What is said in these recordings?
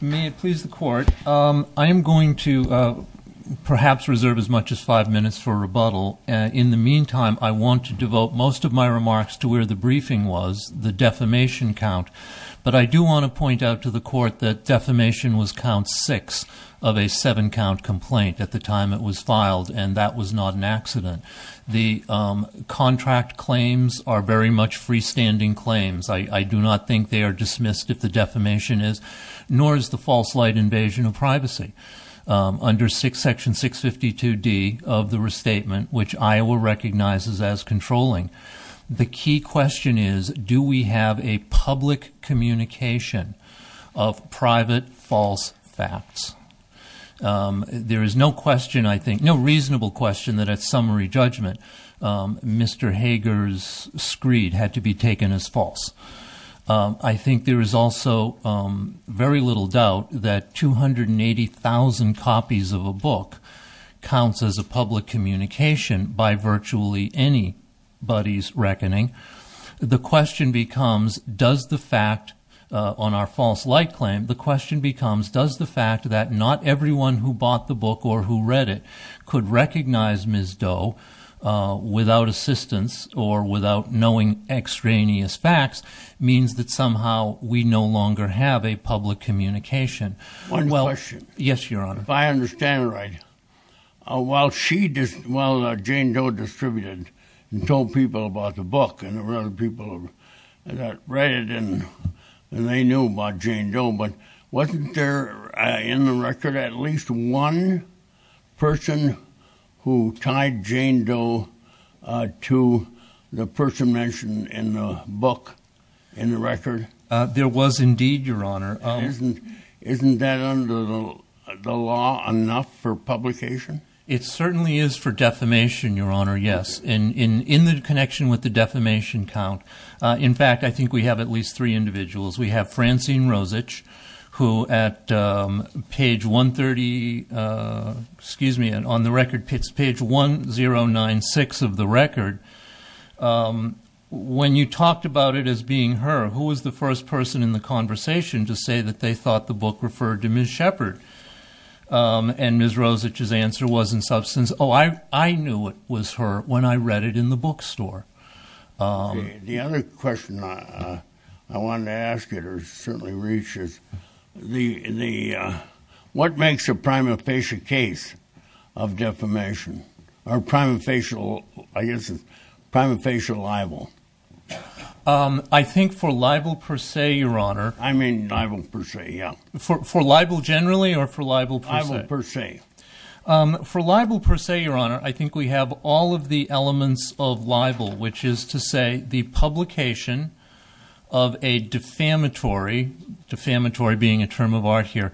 May it please the Court, I am going to perhaps reserve as much as five minutes for rebuttal. In the meantime, I want to devote most of my remarks to where the briefing was, the defamation count. But I do want to point out to the Court that defamation was count six of a seven-count complaint at the time it was filed, and that was not an accident. The contract claims are very much freestanding claims. I do not think they are dismissed if the defamation is, nor is the false light invasion of privacy. Under section 652D of the restatement, which Iowa recognizes as controlling, the key question is do we have a public communication of private false facts? There is no question, I think, no reasonable question that at summary judgment Mr. Hagar's screed had to be taken as false. I think there is also very little doubt that 280,000 copies of a book counts as a public communication by virtually anybody's reckoning. The question becomes does the fact on our false light claim, the question becomes does the fact that not everyone who bought the book or who read it could recognize Ms. Doe without assistance or without knowing extraneous facts means that somehow we no longer have a public communication? One question. Yes, Your Honor. If I understand it right, while she, while Jane Doe distributed and told people about the book and there were other people that read it and they knew about Jane Doe, but wasn't there in the record at least one person who tied Jane Doe to the person mentioned in the book, in the record? There was indeed, Your Honor. Isn't that under the law enough for publication? It certainly is for defamation, Your Honor, yes. In the connection with the defamation count. In fact, I think we have at least three individuals. We have Francine Rosich who at page 130, excuse me, on the record, it's page 1096 of the record. When you talked about it as being her, who was the first person in the conversation to say that they thought the book referred to Ms. Shepard? And Ms. Rosich's answer was in substance, oh, I knew it was her. When I read it in the bookstore. The other question I wanted to ask you or certainly reach is, what makes a prima facie case of defamation or prima facie, I guess it's prima facie libel? I think for libel per se, Your Honor. I mean libel per se, yeah. For libel generally or for libel per se? Libel per se. For libel per se, Your Honor, I think we have all of the elements of libel, which is to say the publication of a defamatory, defamatory being a term of art here,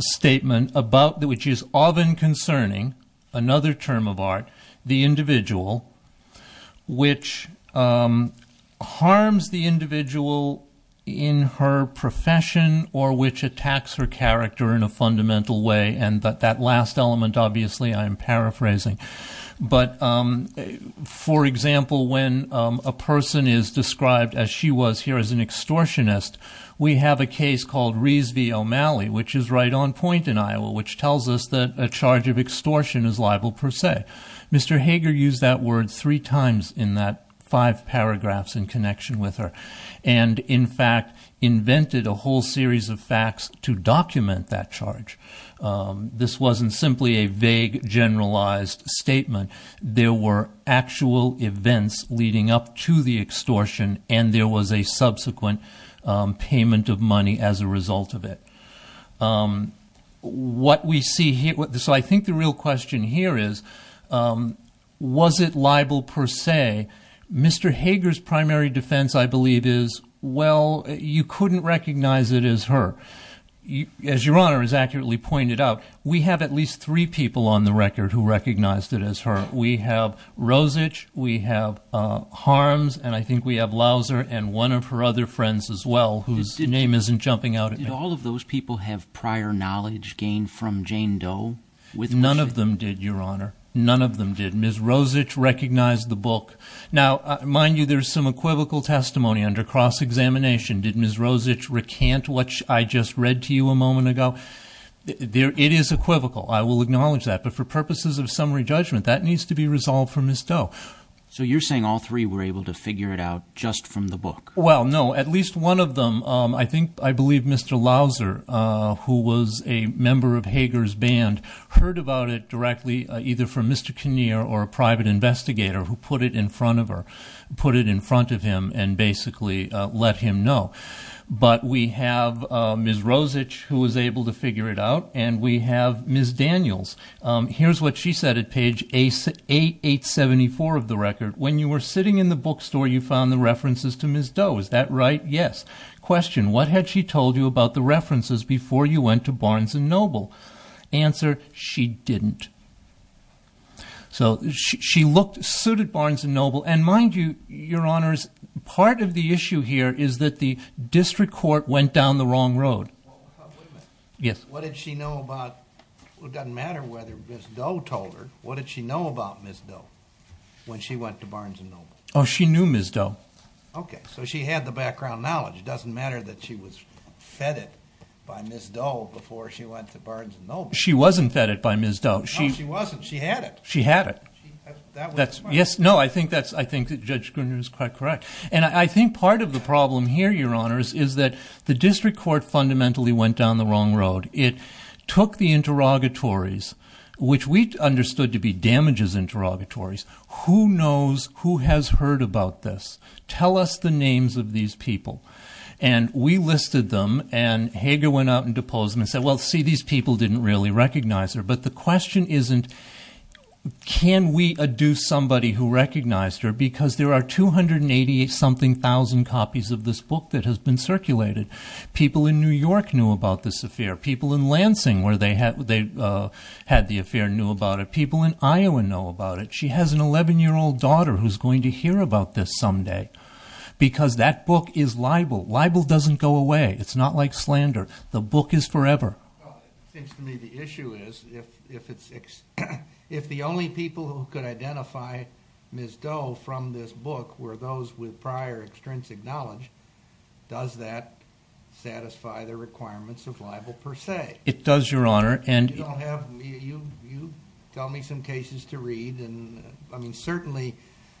statement about which is often concerning, another term of art, the individual, which harms the individual in her profession or which attacks her character in a fundamental way. And that last element, obviously, I'm paraphrasing. But for example, when a person is described as she was here as an extortionist, we have a case called Rees v. O'Malley, which is right on point in Iowa, which tells us that a charge of extortion is libel per se. Mr. Hager used that word three times in that five paragraphs in connection with her and, in fact, invented a whole series of facts to document that charge. This wasn't simply a vague, generalized statement. There were actual events leading up to the extortion, and there was a subsequent payment of money as a result of it. So I think the real question here is, was it libel per se? Mr. Hager's primary defense, I believe, is, well, you couldn't recognize it as her. As Your Honor has accurately pointed out, we have at least three people on the record who recognized it as her. We have Rosich, we have Harms, and I think we have Lauser and one of her other friends as well, whose name isn't jumping out at me. Did all of those people have prior knowledge gained from Jane Doe? None of them did, Your Honor. None of them did. Ms. Rosich recognized the book. Now, mind you, there's some equivocal testimony under cross-examination. Did Ms. Rosich recant what I just read to you a moment ago? It is equivocal. I will acknowledge that. But for purposes of summary judgment, that needs to be resolved for Ms. Doe. So you're saying all three were able to figure it out just from the book? Well, no. At least one of them, I believe Mr. Lauser, who was a member of Hager's band, heard about it directly either from Mr. Kinnear or a private investigator who put it in front of her, put it in front of him, and basically let him know. But we have Ms. Rosich, who was able to figure it out, and we have Ms. Daniels. Here's what she said at page 874 of the record. When you were sitting in the bookstore, you found the references to Ms. Doe. Is that right? Yes. Question, what had she told you about the references before you went to Barnes & Noble? Answer, she didn't. So she looked suited Barnes & Noble. And mind you, Your Honors, part of the issue here is that the district court went down the wrong road. Wait a minute. Yes. What did she know about, it doesn't matter whether Ms. Doe told her, what did she know about Ms. Doe when she went to Barnes & Noble? She knew Ms. Doe. Okay. So she had the background knowledge. It doesn't matter that she was fed it by Ms. Doe before she went to Barnes & Noble. She wasn't fed it by Ms. Doe. No, she wasn't. She had it. She had it. That would explain it. Yes. No, I think that Judge Gruner is quite correct. And I think part of the problem here, Your Honors, is that the district court fundamentally went down the wrong road. It took the interrogatories, which we understood to be damages interrogatories. Who knows who has heard about this? Tell us the names of these people. And we listed them, and Hager went out and deposed them and said, well, see, these people didn't really recognize her. But the question isn't, can we adduce somebody who recognized her? Because there are 288-something thousand copies of this book that has been circulated. People in New York knew about this affair. People in Lansing, where they had the affair, knew about it. People in Iowa know about it. She has an 11-year-old daughter who's going to hear about this someday, because that book is libel. Libel doesn't go away. It's not like slander. The book is forever. Well, it seems to me the issue is, if the only people who could identify Ms. Doe from this book were those with prior extrinsic knowledge, does that satisfy the requirements of libel per se? It does, Your Honor. You don't have, you've told me some cases to read, and, I mean, certainly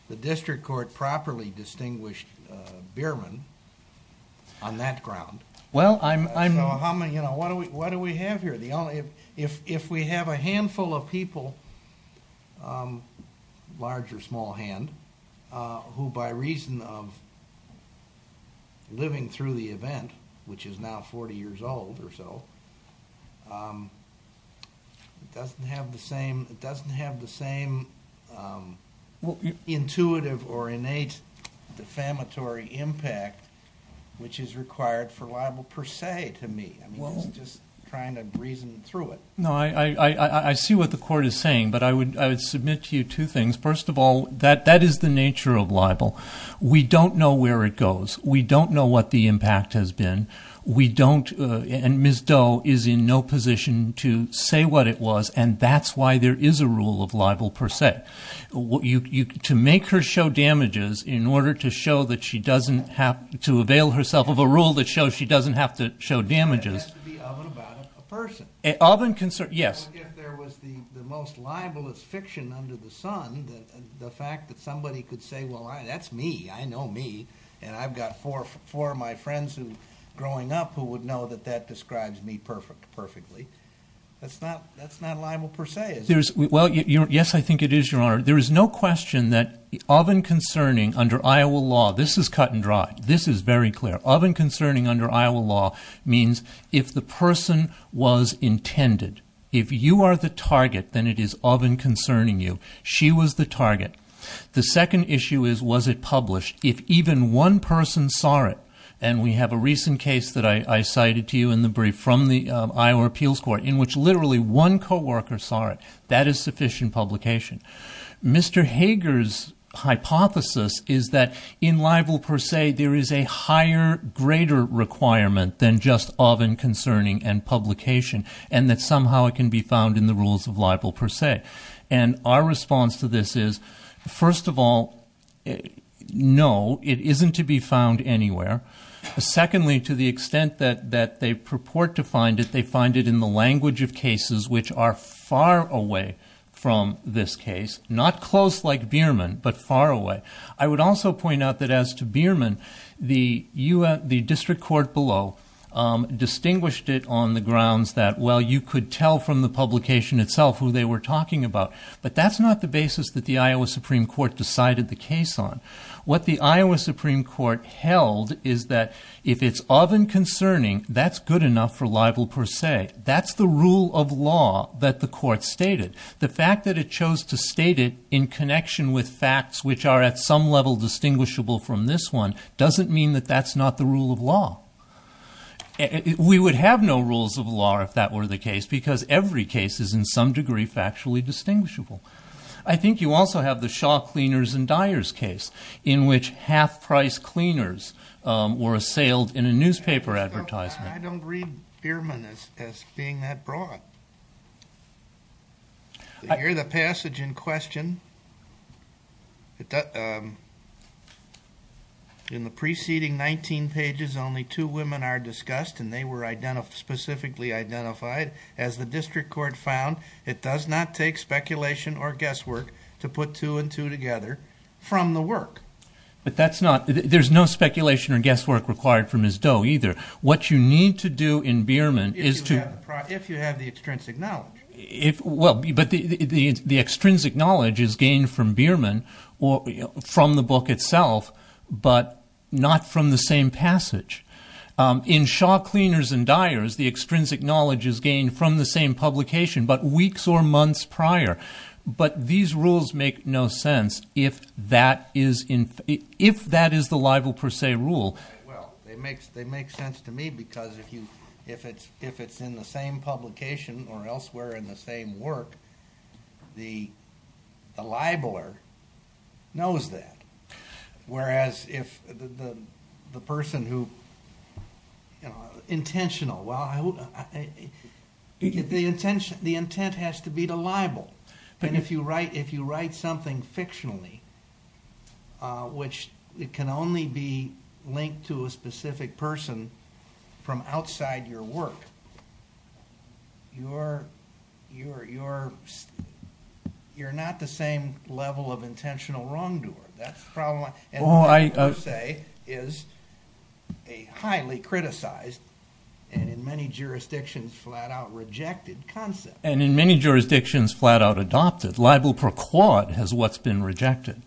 the district court properly distinguished Bierman on that ground. Well, I'm... So how many, you know, what do we have here? If we have a handful of people, large or small hand, who by reason of living through the It doesn't have the same intuitive or innate defamatory impact which is required for libel per se to me. I mean, it's just trying to reason through it. No, I see what the court is saying, but I would submit to you two things. First of all, that is the nature of libel. We don't know where it goes. We don't know what the impact has been. We don't, and Ms. Doe is in no position to say what it was, and that's why there is a rule of libel per se. To make her show damages in order to show that she doesn't have, to avail herself of a rule that shows she doesn't have to show damages... That has to be of and about a person. Of and concern, yes. If there was the most libelous fiction under the sun, the fact that somebody could say, well, that's me. I know me, and I've got four of my friends who, growing up, who would know that that describes me perfectly, that's not libel per se, is it? Well, yes, I think it is, Your Honor. There is no question that of and concerning under Iowa law, this is cut and dry. This is very clear. Of and concerning under Iowa law means if the person was intended. If you are the target, then it is of and concerning you. She was the target. The second issue is, was it published? If even one person saw it, and we have a recent case that I cited to you in the brief from the Iowa Appeals Court, in which literally one co-worker saw it, that is sufficient publication. Mr. Hager's hypothesis is that in libel per se, there is a higher, greater requirement than just of and concerning and publication, and that somehow it can be found in the rules of libel per se. Our response to this is, first of all, no, it isn't to be found anywhere. Secondly, to the extent that they purport to find it, they find it in the language of cases which are far away from this case. Not close like Bierman, but far away. I would also point out that as to Bierman, the district court below distinguished it on the grounds that, well, you could tell from the publication itself who they were talking about. But that's not the basis that the Iowa Supreme Court decided the case on. What the Iowa Supreme Court held is that if it's of and concerning, that's good enough for libel per se. That's the rule of law that the court stated. The fact that it chose to state it in connection with facts which are at some level distinguishable from this one doesn't mean that that's not the rule of law. We would have no rules of law if that were the case, because every case is in some degree factually distinguishable. I think you also have the Shaw Cleaners and Dyers case, in which half-price cleaners were assailed in a newspaper advertisement. I don't read Bierman as being that broad. In the passage in question, in the preceding 19 pages, only two women are discussed, and they were specifically identified. As the district court found, it does not take speculation or guesswork to put two and two together from the work. But that's not—there's no speculation or guesswork required from Ms. Doe, either. What you need to do in Bierman is to— If you have the extrinsic knowledge. But the extrinsic knowledge is gained from Bierman, from the book itself, but not from the same passage. In Shaw Cleaners and Dyers, the extrinsic knowledge is gained from the same publication, but weeks or months prior. But these rules make no sense if that is the libel per se rule. Well, they make sense to me, because if it's in the same publication or elsewhere in the same work, the libeler knows that. Whereas if the person who—intentional, well, the intent has to be the libel. But if you write something fictionally, which it can only be linked to a specific person from outside your work, you're not the same level of intentional wrongdoer. And libel per se is a highly criticized and in many jurisdictions flat-out rejected concept. And in many jurisdictions flat-out adopted. Libel per quad has what's been rejected.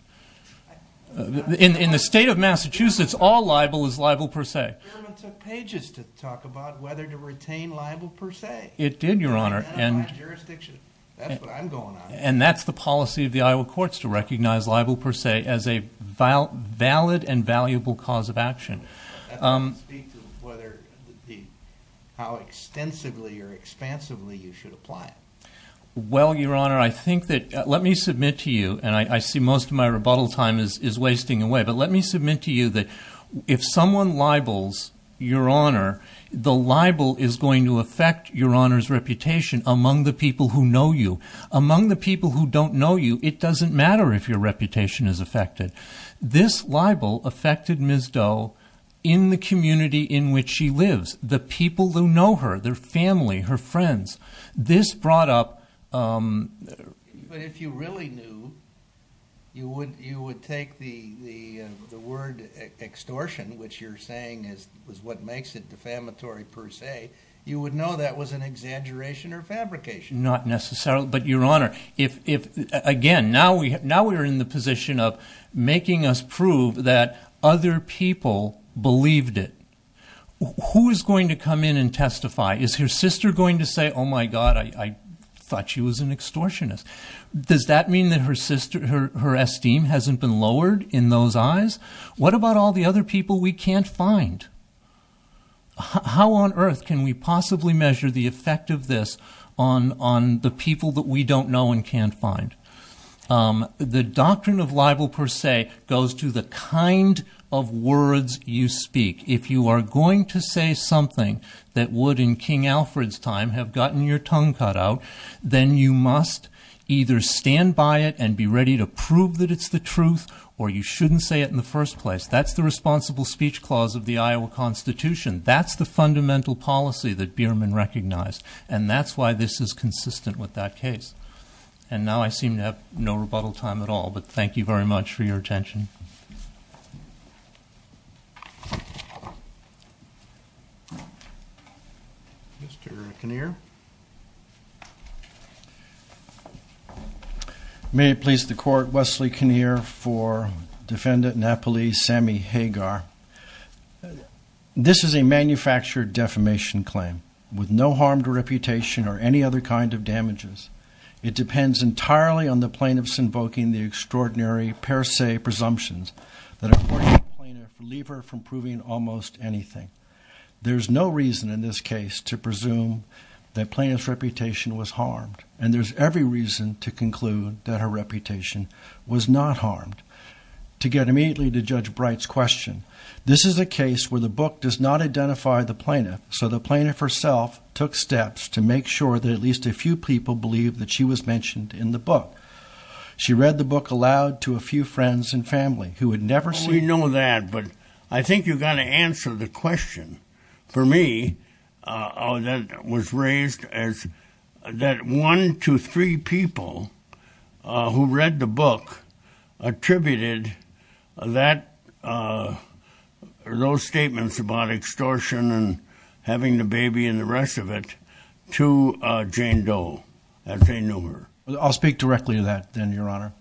In the state of Massachusetts, all libel is libel per se. Bierman took pages to talk about whether to retain libel per se. It did, Your Honor. In my jurisdiction. That's what I'm going on about. And that's the policy of the Iowa courts to recognize libel per se as a valid and valuable cause of action. That doesn't speak to how extensively or expansively you should apply it. Well, Your Honor, I think that—let me submit to you, and I see most of my rebuttal time is wasting away, but let me submit to you that if someone libels Your Honor, the libel is going to affect Your Honor's reputation among the people who know you. Among the people who don't know you, it doesn't matter if your reputation is affected. This libel affected Ms. Doe in the community in which she lives. The people who know her, their family, her friends. This brought up— But if you really knew, you would take the word extortion, which you're saying is what makes it defamatory per se. You would know that was an exaggeration or fabrication. Not necessarily, but Your Honor, again, now we are in the position of making us prove that other people believed it. Who is going to come in and testify? Is her sister going to say, oh my God, I thought she was an extortionist? Does that mean that her esteem hasn't been lowered in those eyes? What about all the other people we can't find? How on earth can we possibly measure the effect of this on the people that we don't know and can't find? The doctrine of libel per se goes to the kind of words you speak. If you are going to say something that would, in King Alfred's time, have gotten your tongue cut out, then you must either stand by it and be ready to prove that it's the truth or you shouldn't say it in the first place. That's the responsible speech clause of the Iowa Constitution. That's the fundamental policy that Bierman recognized, and that's why this is consistent with that case. And now I seem to have no rebuttal time at all, but thank you very much for your attention. Mr. Kinnear? May it please the Court, Wesley Kinnear for Defendant Napoli Sammy Hagar. This is a manufactured defamation claim with no harmed reputation or any other kind of damages. It depends entirely on the plaintiff's invoking the extraordinary per se presumptions that are important to the plaintiff to leave her from proving almost anything. There's no reason in this case to presume that plaintiff's reputation was harmed, and there's every reason to conclude that her reputation was not harmed. To get immediately to Judge Bright's question, this is a case where the book does not identify the plaintiff, so the plaintiff herself took steps to make sure that at least a few people believe that she was mentioned in the book. She read the book aloud to a few friends and family who had never seen it. But I think you've got to answer the question. For me, that was raised as that one to three people who read the book attributed those statements about extortion and having the baby and the rest of it to Jane Doe as they knew her. I'll speak directly to that then, Your Honor.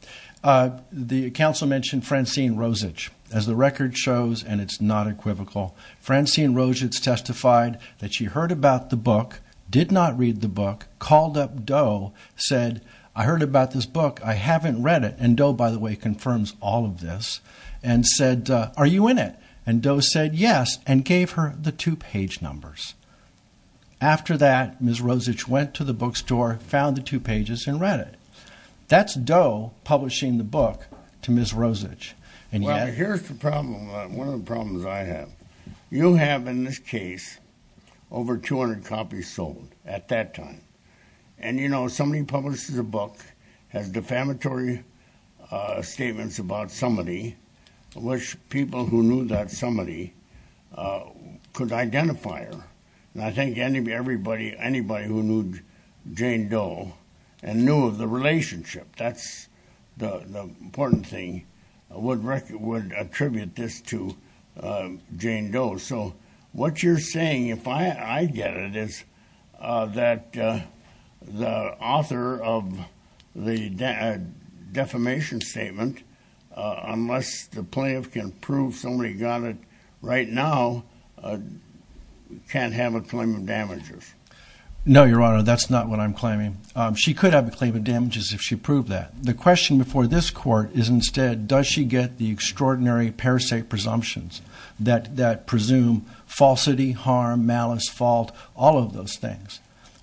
The counsel mentioned Francine Rosich. As the record shows, and it's not equivocal, Francine Rosich testified that she heard about the book, did not read the book, called up Doe, said, I heard about this book, I haven't read it, and Doe, by the way, confirms all of this, and said, are you in it? And Doe said yes, and gave her the two-page numbers. After that, Ms. Rosich went to the bookstore, found the two pages, and read it. That's Doe publishing the book to Ms. Rosich. Well, here's the problem, one of the problems I have. You have, in this case, over 200 copies sold at that time. And you know, somebody publishes a book, has defamatory statements about somebody, which people who knew that somebody could identify her. And I think anybody who knew Jane Doe and knew of the relationship, that's the important thing, would attribute this to Jane Doe. So what you're saying, if I get it, is that the author of the defamation statement, unless the plaintiff can prove somebody got it right now, can't have a claim of damages. No, Your Honor, that's not what I'm claiming. She could have a claim of damages if she proved that. The question before this Court is instead, does she get the extraordinary per se presumptions that presume falsity, harm, malice, fault, all of those things?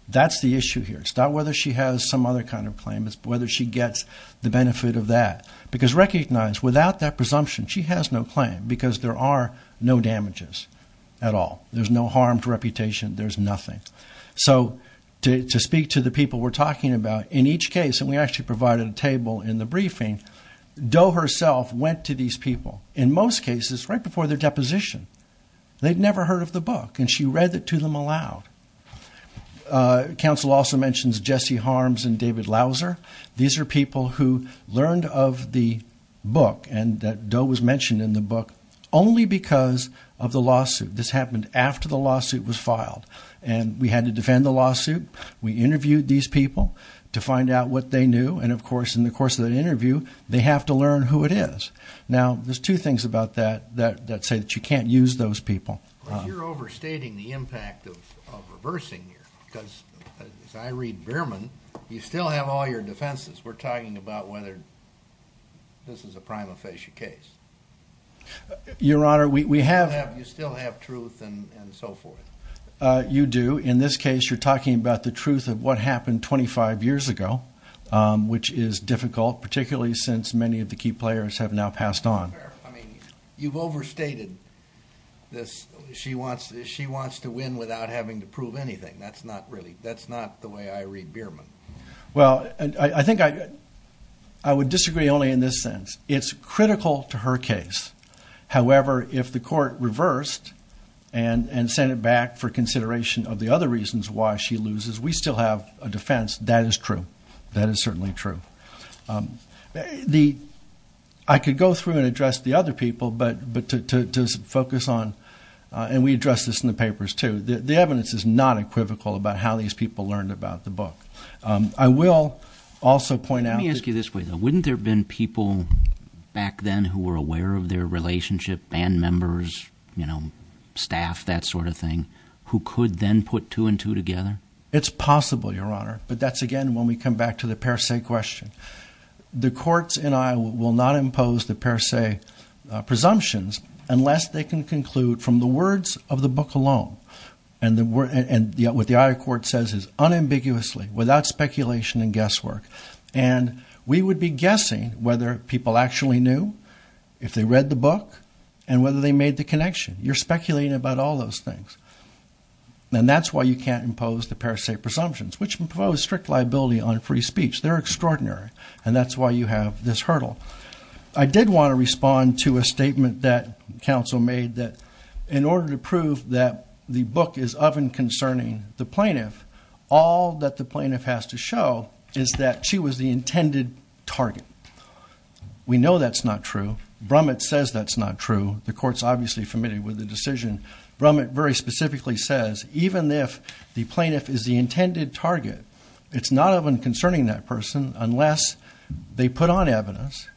That's the issue here. It's not whether she has some other kind of claim, it's whether she gets the benefit of that. Because recognize, without that presumption, she has no claim, because there are no damages at all. There's no harmed reputation, there's nothing. So to speak to the people we're talking about, in each case, and we actually provided a table in the briefing, Doe herself went to these people, in most cases right before their deposition. They'd never heard of the book, and she read it to them aloud. Counsel also mentions Jesse Harms and David Lauser. These are people who learned of the book and that Doe was mentioned in the book only because of the lawsuit. This happened after the lawsuit was filed, and we had to defend the lawsuit, we interviewed these people to find out what they knew, and of course in the course of that interview, they have to learn who it is. Now there's two things about that that say that you can't use those people. You're overstating the impact of reversing here, because as I read Behrman, you still have all your defenses. We're talking about whether this is a prima facie case. Your Honor, we have... You still have truth and so forth. You do. In this case, you're talking about the truth of what happened 25 years ago, which is difficult, particularly since many of the key players have now passed on. I mean, you've overstated this. She wants to win without having to prove anything. That's not really, that's not the way I read Behrman. Well, I think I would disagree only in this sense. It's critical to her case. However, if the court reversed and sent it back for consideration of the other reasons why she loses, we still have a defense. That is true. That is certainly true. I could go through and address the other people, but to focus on, and we addressed this in the papers too, the evidence is not equivocal about how these people learned about the book. I will also point out... Let me ask you this way, though. Wouldn't there have been people back then who were aware of their relationship, band members, staff, that sort of thing, who could then put two and two together? It's possible, Your Honor, but that's again when we come back to the per se question. The courts in Iowa will not impose the per se presumptions unless they can conclude from the words of the book alone, and what the Iowa court says is unambiguously, without speculation and guesswork. And we would be guessing whether people actually knew if they read the book and whether they made the connection. You're speculating about all those things. And that's why you can't impose the per se presumptions, which impose strict liability on free speech. They're extraordinary, and that's why you have this hurdle. I did want to respond to a statement that counsel made that in order to prove that the plaintiff has to show is that she was the intended target. We know that's not true. Brummett says that's not true. The court's obviously familiar with the decision. Brummett very specifically says even if the plaintiff is the intended target, it's not of them concerning that person unless they put on evidence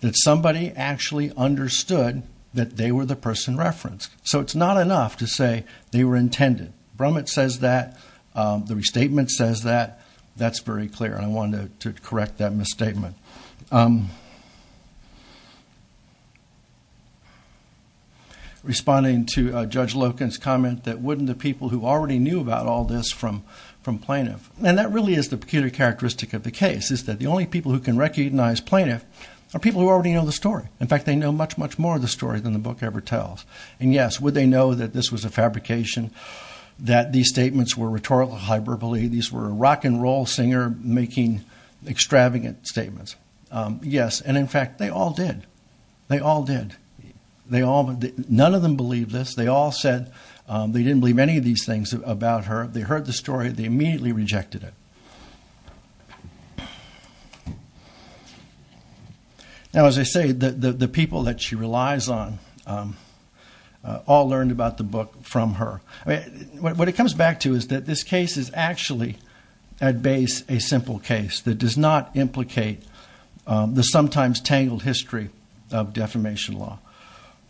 that somebody actually understood that they were the person referenced. So it's not enough to say they were intended. Brummett says that. The restatement says that. That's very clear. I wanted to correct that misstatement. Responding to Judge Loken's comment that wouldn't the people who already knew about all this from plaintiff, and that really is the peculiar characteristic of the case, is that the only people who can recognize plaintiff are people who already know the story. In fact, they know much, much more of the story than the book ever tells. And yes, would they know that this was a fabrication, that these statements were rhetorical hyperbole, these were rock and roll singer making extravagant statements? Yes. And in fact, they all did. They all did. None of them believed this. They all said they didn't believe any of these things about her. They heard the story. They immediately rejected it. Now, as I say, the people that she relies on all learned about the book from her. What it comes back to is that this case is actually at base a simple case that does not implicate the sometimes tangled history of defamation law.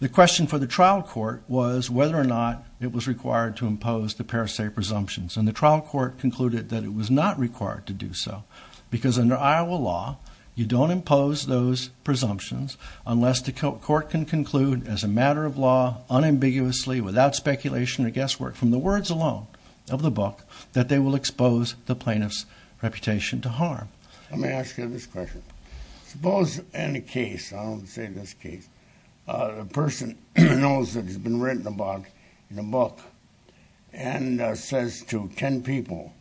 The question for the trial court was whether or not it was required to impose the paracet presumptions. And the trial court concluded that it was not required to do so because under Iowa law, you don't impose those presumptions unless the court can conclude as a matter of law unambiguously without speculation or guesswork from the words alone of the book that they will expose the plaintiff's reputation to harm. Let me ask you this question. Suppose in a case, I'll say this case, a person knows that it's been written about in a book and says to 10 people,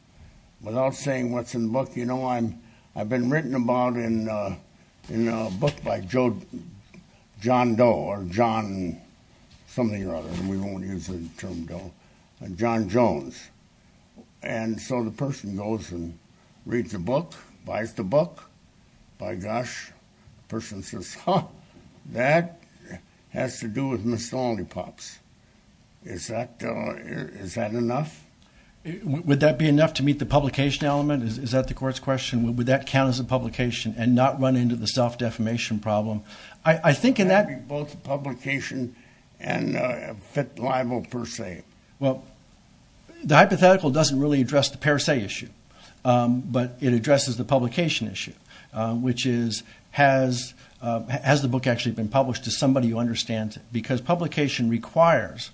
without saying what's in the book, you know, I've been written about in a book by John Doe or John something or other, we won't use the term Doe, John Jones. And so the person goes and reads the book, buys the book, by gosh, the person says, huh, that has to do with Miss Lonely Pops. Is that enough? Would that be enough to meet the publication element? Is that the court's question? Would that count as a publication and not run into the self-defamation problem? I think in that... Both publication and fit libel per se. Well, the hypothetical doesn't really address the paracet issue, but it addresses the publication issue, which is, has the book actually been published to somebody who understands it? Because publication requires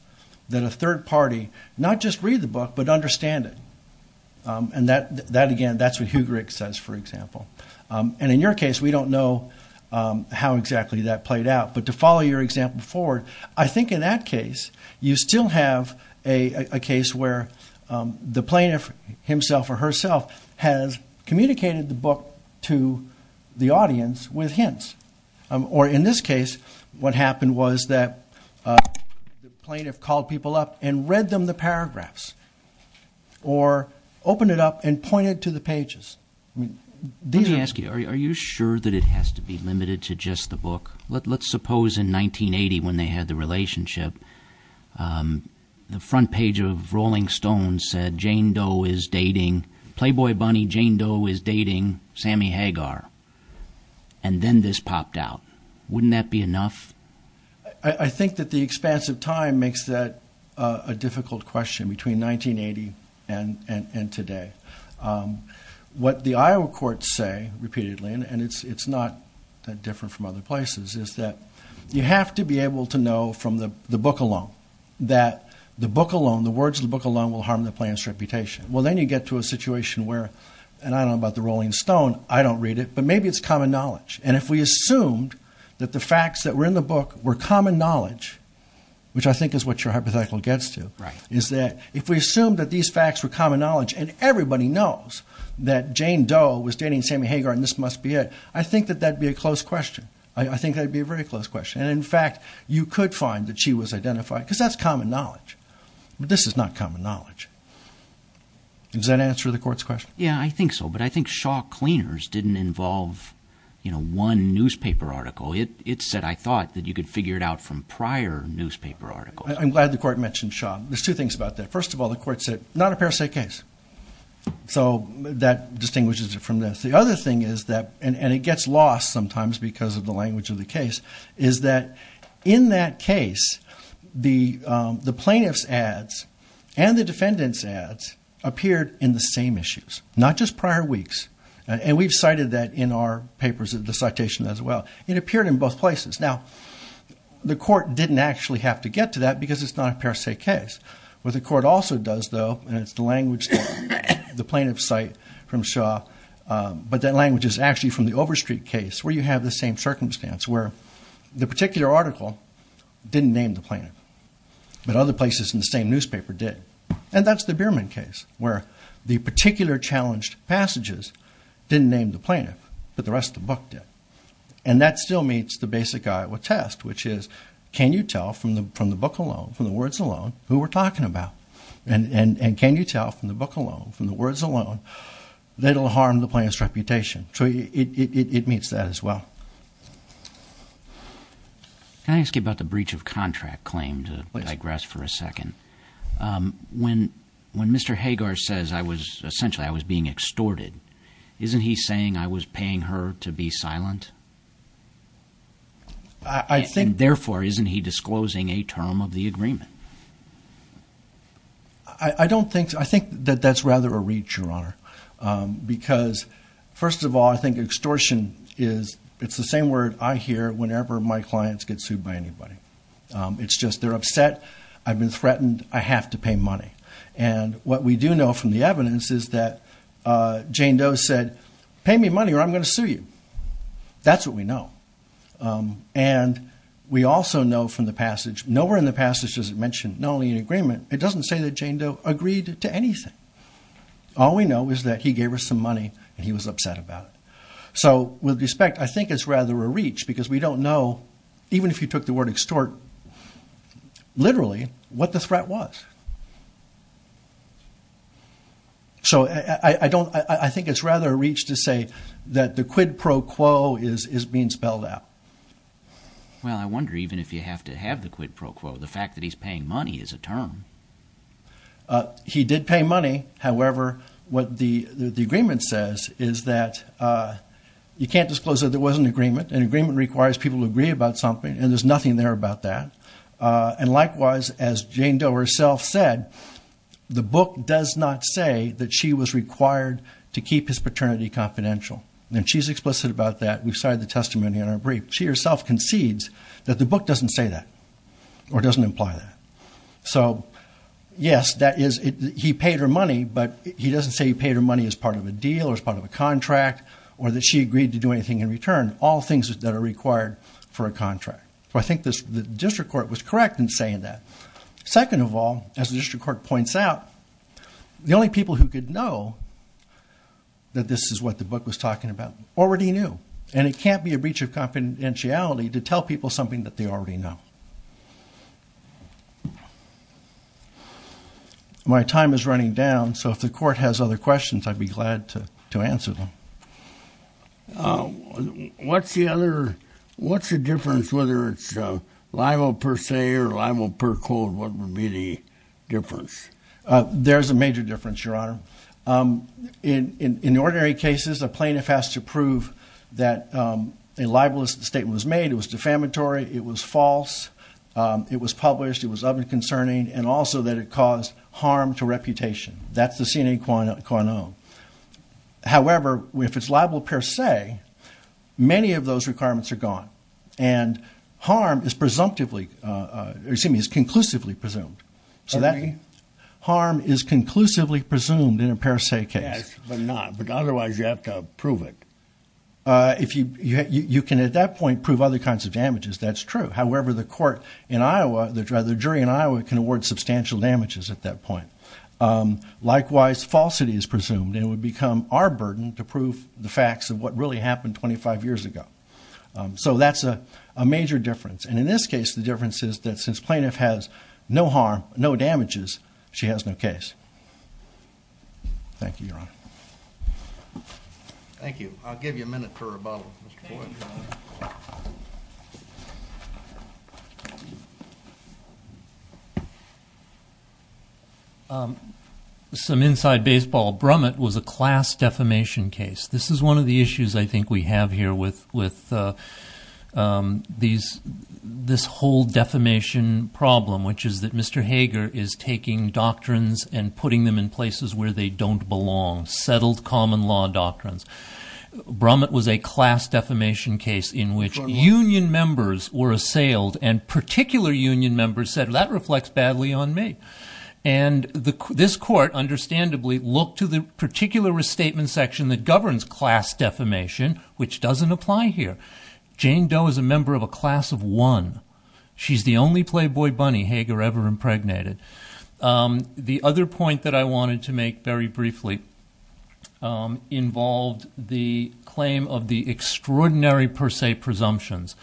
that a third party not just read the book, but understand it. And that, again, that's what Hugerich says, for example. And in your case, we don't know how exactly that played out. But to follow your example forward, I think in that case, you still have a case where the plaintiff himself or herself has communicated the book to the audience with hints. Or in this case, what happened was that the plaintiff called people up and read them the paragraphs or opened it up and pointed to the pages. Let me ask you, are you sure that it has to be limited to just the book? Let's suppose in 1980, when they had the relationship, the front page of Rolling Stone said, Jane Doe is dating Playboy Bunny. Jane Doe is dating Sammy Hagar. And then this popped out. Wouldn't that be enough? I think that the expanse of time makes that a difficult question between 1980 and today. What the Iowa courts say repeatedly, and it's not that different from other places, is that you have to be able to know from the book alone that the book alone, the words of the book alone will harm the plaintiff's reputation. Well, then you get to a situation where, and I don't know about the Rolling Stone, I don't read it, but maybe it's common knowledge. And if we assumed that the facts that were in the book were common knowledge, which I think is what your hypothetical gets to, is that if we assume that these facts were common knowledge and everybody knows that Jane Doe was dating Sammy Hagar and this must be it, I think that that'd be a close question. I think that'd be a very close question. And in fact, you could find that she was identified because that's common knowledge. But this is not common knowledge. Does that answer the court's question? Yeah, I think so. But I think Shaw Cleaners didn't involve one newspaper article. It said, I thought, that you could figure it out from prior newspaper articles. I'm glad the court mentioned Shaw. There's two things about that. First of all, the court said, not a parasite case. So that distinguishes it from this. The other thing is that, and it gets lost sometimes because of the language of the case, is that in that case, the plaintiff's ads and the defendant's ads appeared in the same issues, not just prior weeks. And we've cited that in our papers, the citation as well. It appeared in both places. Now, the court didn't actually have to get to that because it's not a parasite case. What the court also does, though, and it's the language, the plaintiff's site from Shaw, but that language is actually from the Overstreet case where you have the same circumstance where the particular article didn't name the plaintiff, but other places in the same newspaper did. And that's the Bierman case, where the particular challenged passages didn't name the plaintiff, but the rest of the book did. And that still meets the basic Iowa test, which is, can you tell from the book alone, from the words alone, who we're talking about? And can you tell from the book alone, from the words alone, that it'll harm the plaintiff's reputation? So it meets that as well. Can I ask you about the breach of contract claim, to digress for a second? When Mr. Hagar says, essentially, I was being extorted, isn't he saying I was paying her to be silent? And therefore, isn't he disclosing a term of the agreement? I think that that's rather a reach, Your Honor, because first of all, I think extortion is, it's the same word I hear whenever my clients get sued by anybody. It's just, they're upset, I've been threatened, I have to pay money. And what we do know from the evidence is that Jane Doe said, pay me money or I'm going to sue you. That's what we know. And we also know from the passage, nowhere in the passage does it mention, not only an agreement, it doesn't say that Jane Doe agreed to anything. All we know is that he gave her some money and he was upset about it. So with respect, I think it's rather a reach because we don't know, even if you took the word extort, literally, what the threat was. So I don't, I think it's rather a reach to say that the quid pro quo is being spelled out. Well, I wonder even if you have to have the quid pro quo, the fact that he's paying money is a term. He did pay money. However, what the agreement says is that, you can't disclose that there was an agreement. An agreement requires people to agree about something and there's nothing there about that. And likewise, as Jane Doe herself said, the book does not say that she was required to keep his paternity confidential. And she's explicit about that. We've cited the testimony in our brief. She herself concedes that the book doesn't say that or doesn't imply that. So yes, that is, he paid her money, but he doesn't say he paid her money as part of a deal or as part of a contract or that she agreed to do anything in return. All things that are required for a contract. So I think the district court was correct in saying that. Second of all, as the district court points out, the only people who could know that this is what the book was talking about already knew. And it can't be a breach of confidentiality to tell people something that they already know. My time is running down. So if the court has other questions, I'd be glad to answer them. What's the other, what's the difference, whether it's a libel per se or libel per code? What would be the difference? There's a major difference, Your Honor. In ordinary cases, a plaintiff has to prove that a libelous statement was made. It was defamatory. It was false. It was published. It was other content. And also that it caused harm to reputation. That's the CNA quantum. However, if it's libel per se, many of those requirements are gone. And harm is presumptively, or excuse me, is conclusively presumed. So that harm is conclusively presumed in a per se case. Yes, but not. But otherwise, you have to prove it. If you can, at that point, prove other kinds of damages. That's true. However, the court in Iowa, the jury in Iowa, can award substantial damages at that point. Likewise, falsity is presumed. It would become our burden to prove the facts of what really happened 25 years ago. So that's a major difference. And in this case, the difference is that since plaintiff has no harm, no damages, she has no case. Thank you, Your Honor. Thank you. I'll give you a minute for rebuttal. Thank you. Some inside baseball. Brummett was a class defamation case. This is one of the issues I think we have here with this whole defamation problem, which is that Mr. Hager is taking doctrines and putting them in places where they don't belong. Settled common law doctrines. Brummett was a class defamation case in which union members were assailed, and particular union members said, that reflects badly on me. And this court, understandably, looked to the particular restatement section that governs class defamation, which doesn't apply here. Jane Doe is a member of a class of one. She's the only playboy bunny Hager ever impregnated. The other point that I wanted to make very briefly involved the claim of the extraordinary per se presumptions.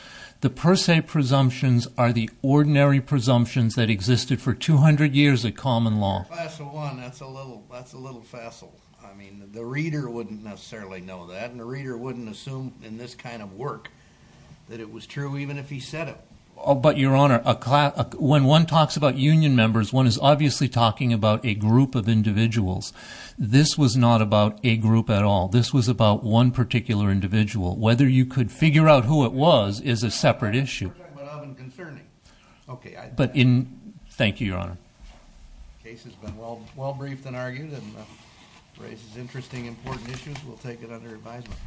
The per se presumptions are the ordinary presumptions that existed for 200 years of common law. A class of one, that's a little facile. I mean, the reader wouldn't necessarily know that, and the reader wouldn't assume in this kind of work that it was true, even if he said it. But your honor, when one talks about union members, one is obviously talking about a group of individuals. This was not about a group at all. This was about one particular individual. Whether you could figure out who it was is a separate issue. We're talking about of and concerning. Thank you, your honor. The case has been well briefed and argued, and raises interesting, important issues. We'll take it under advisement.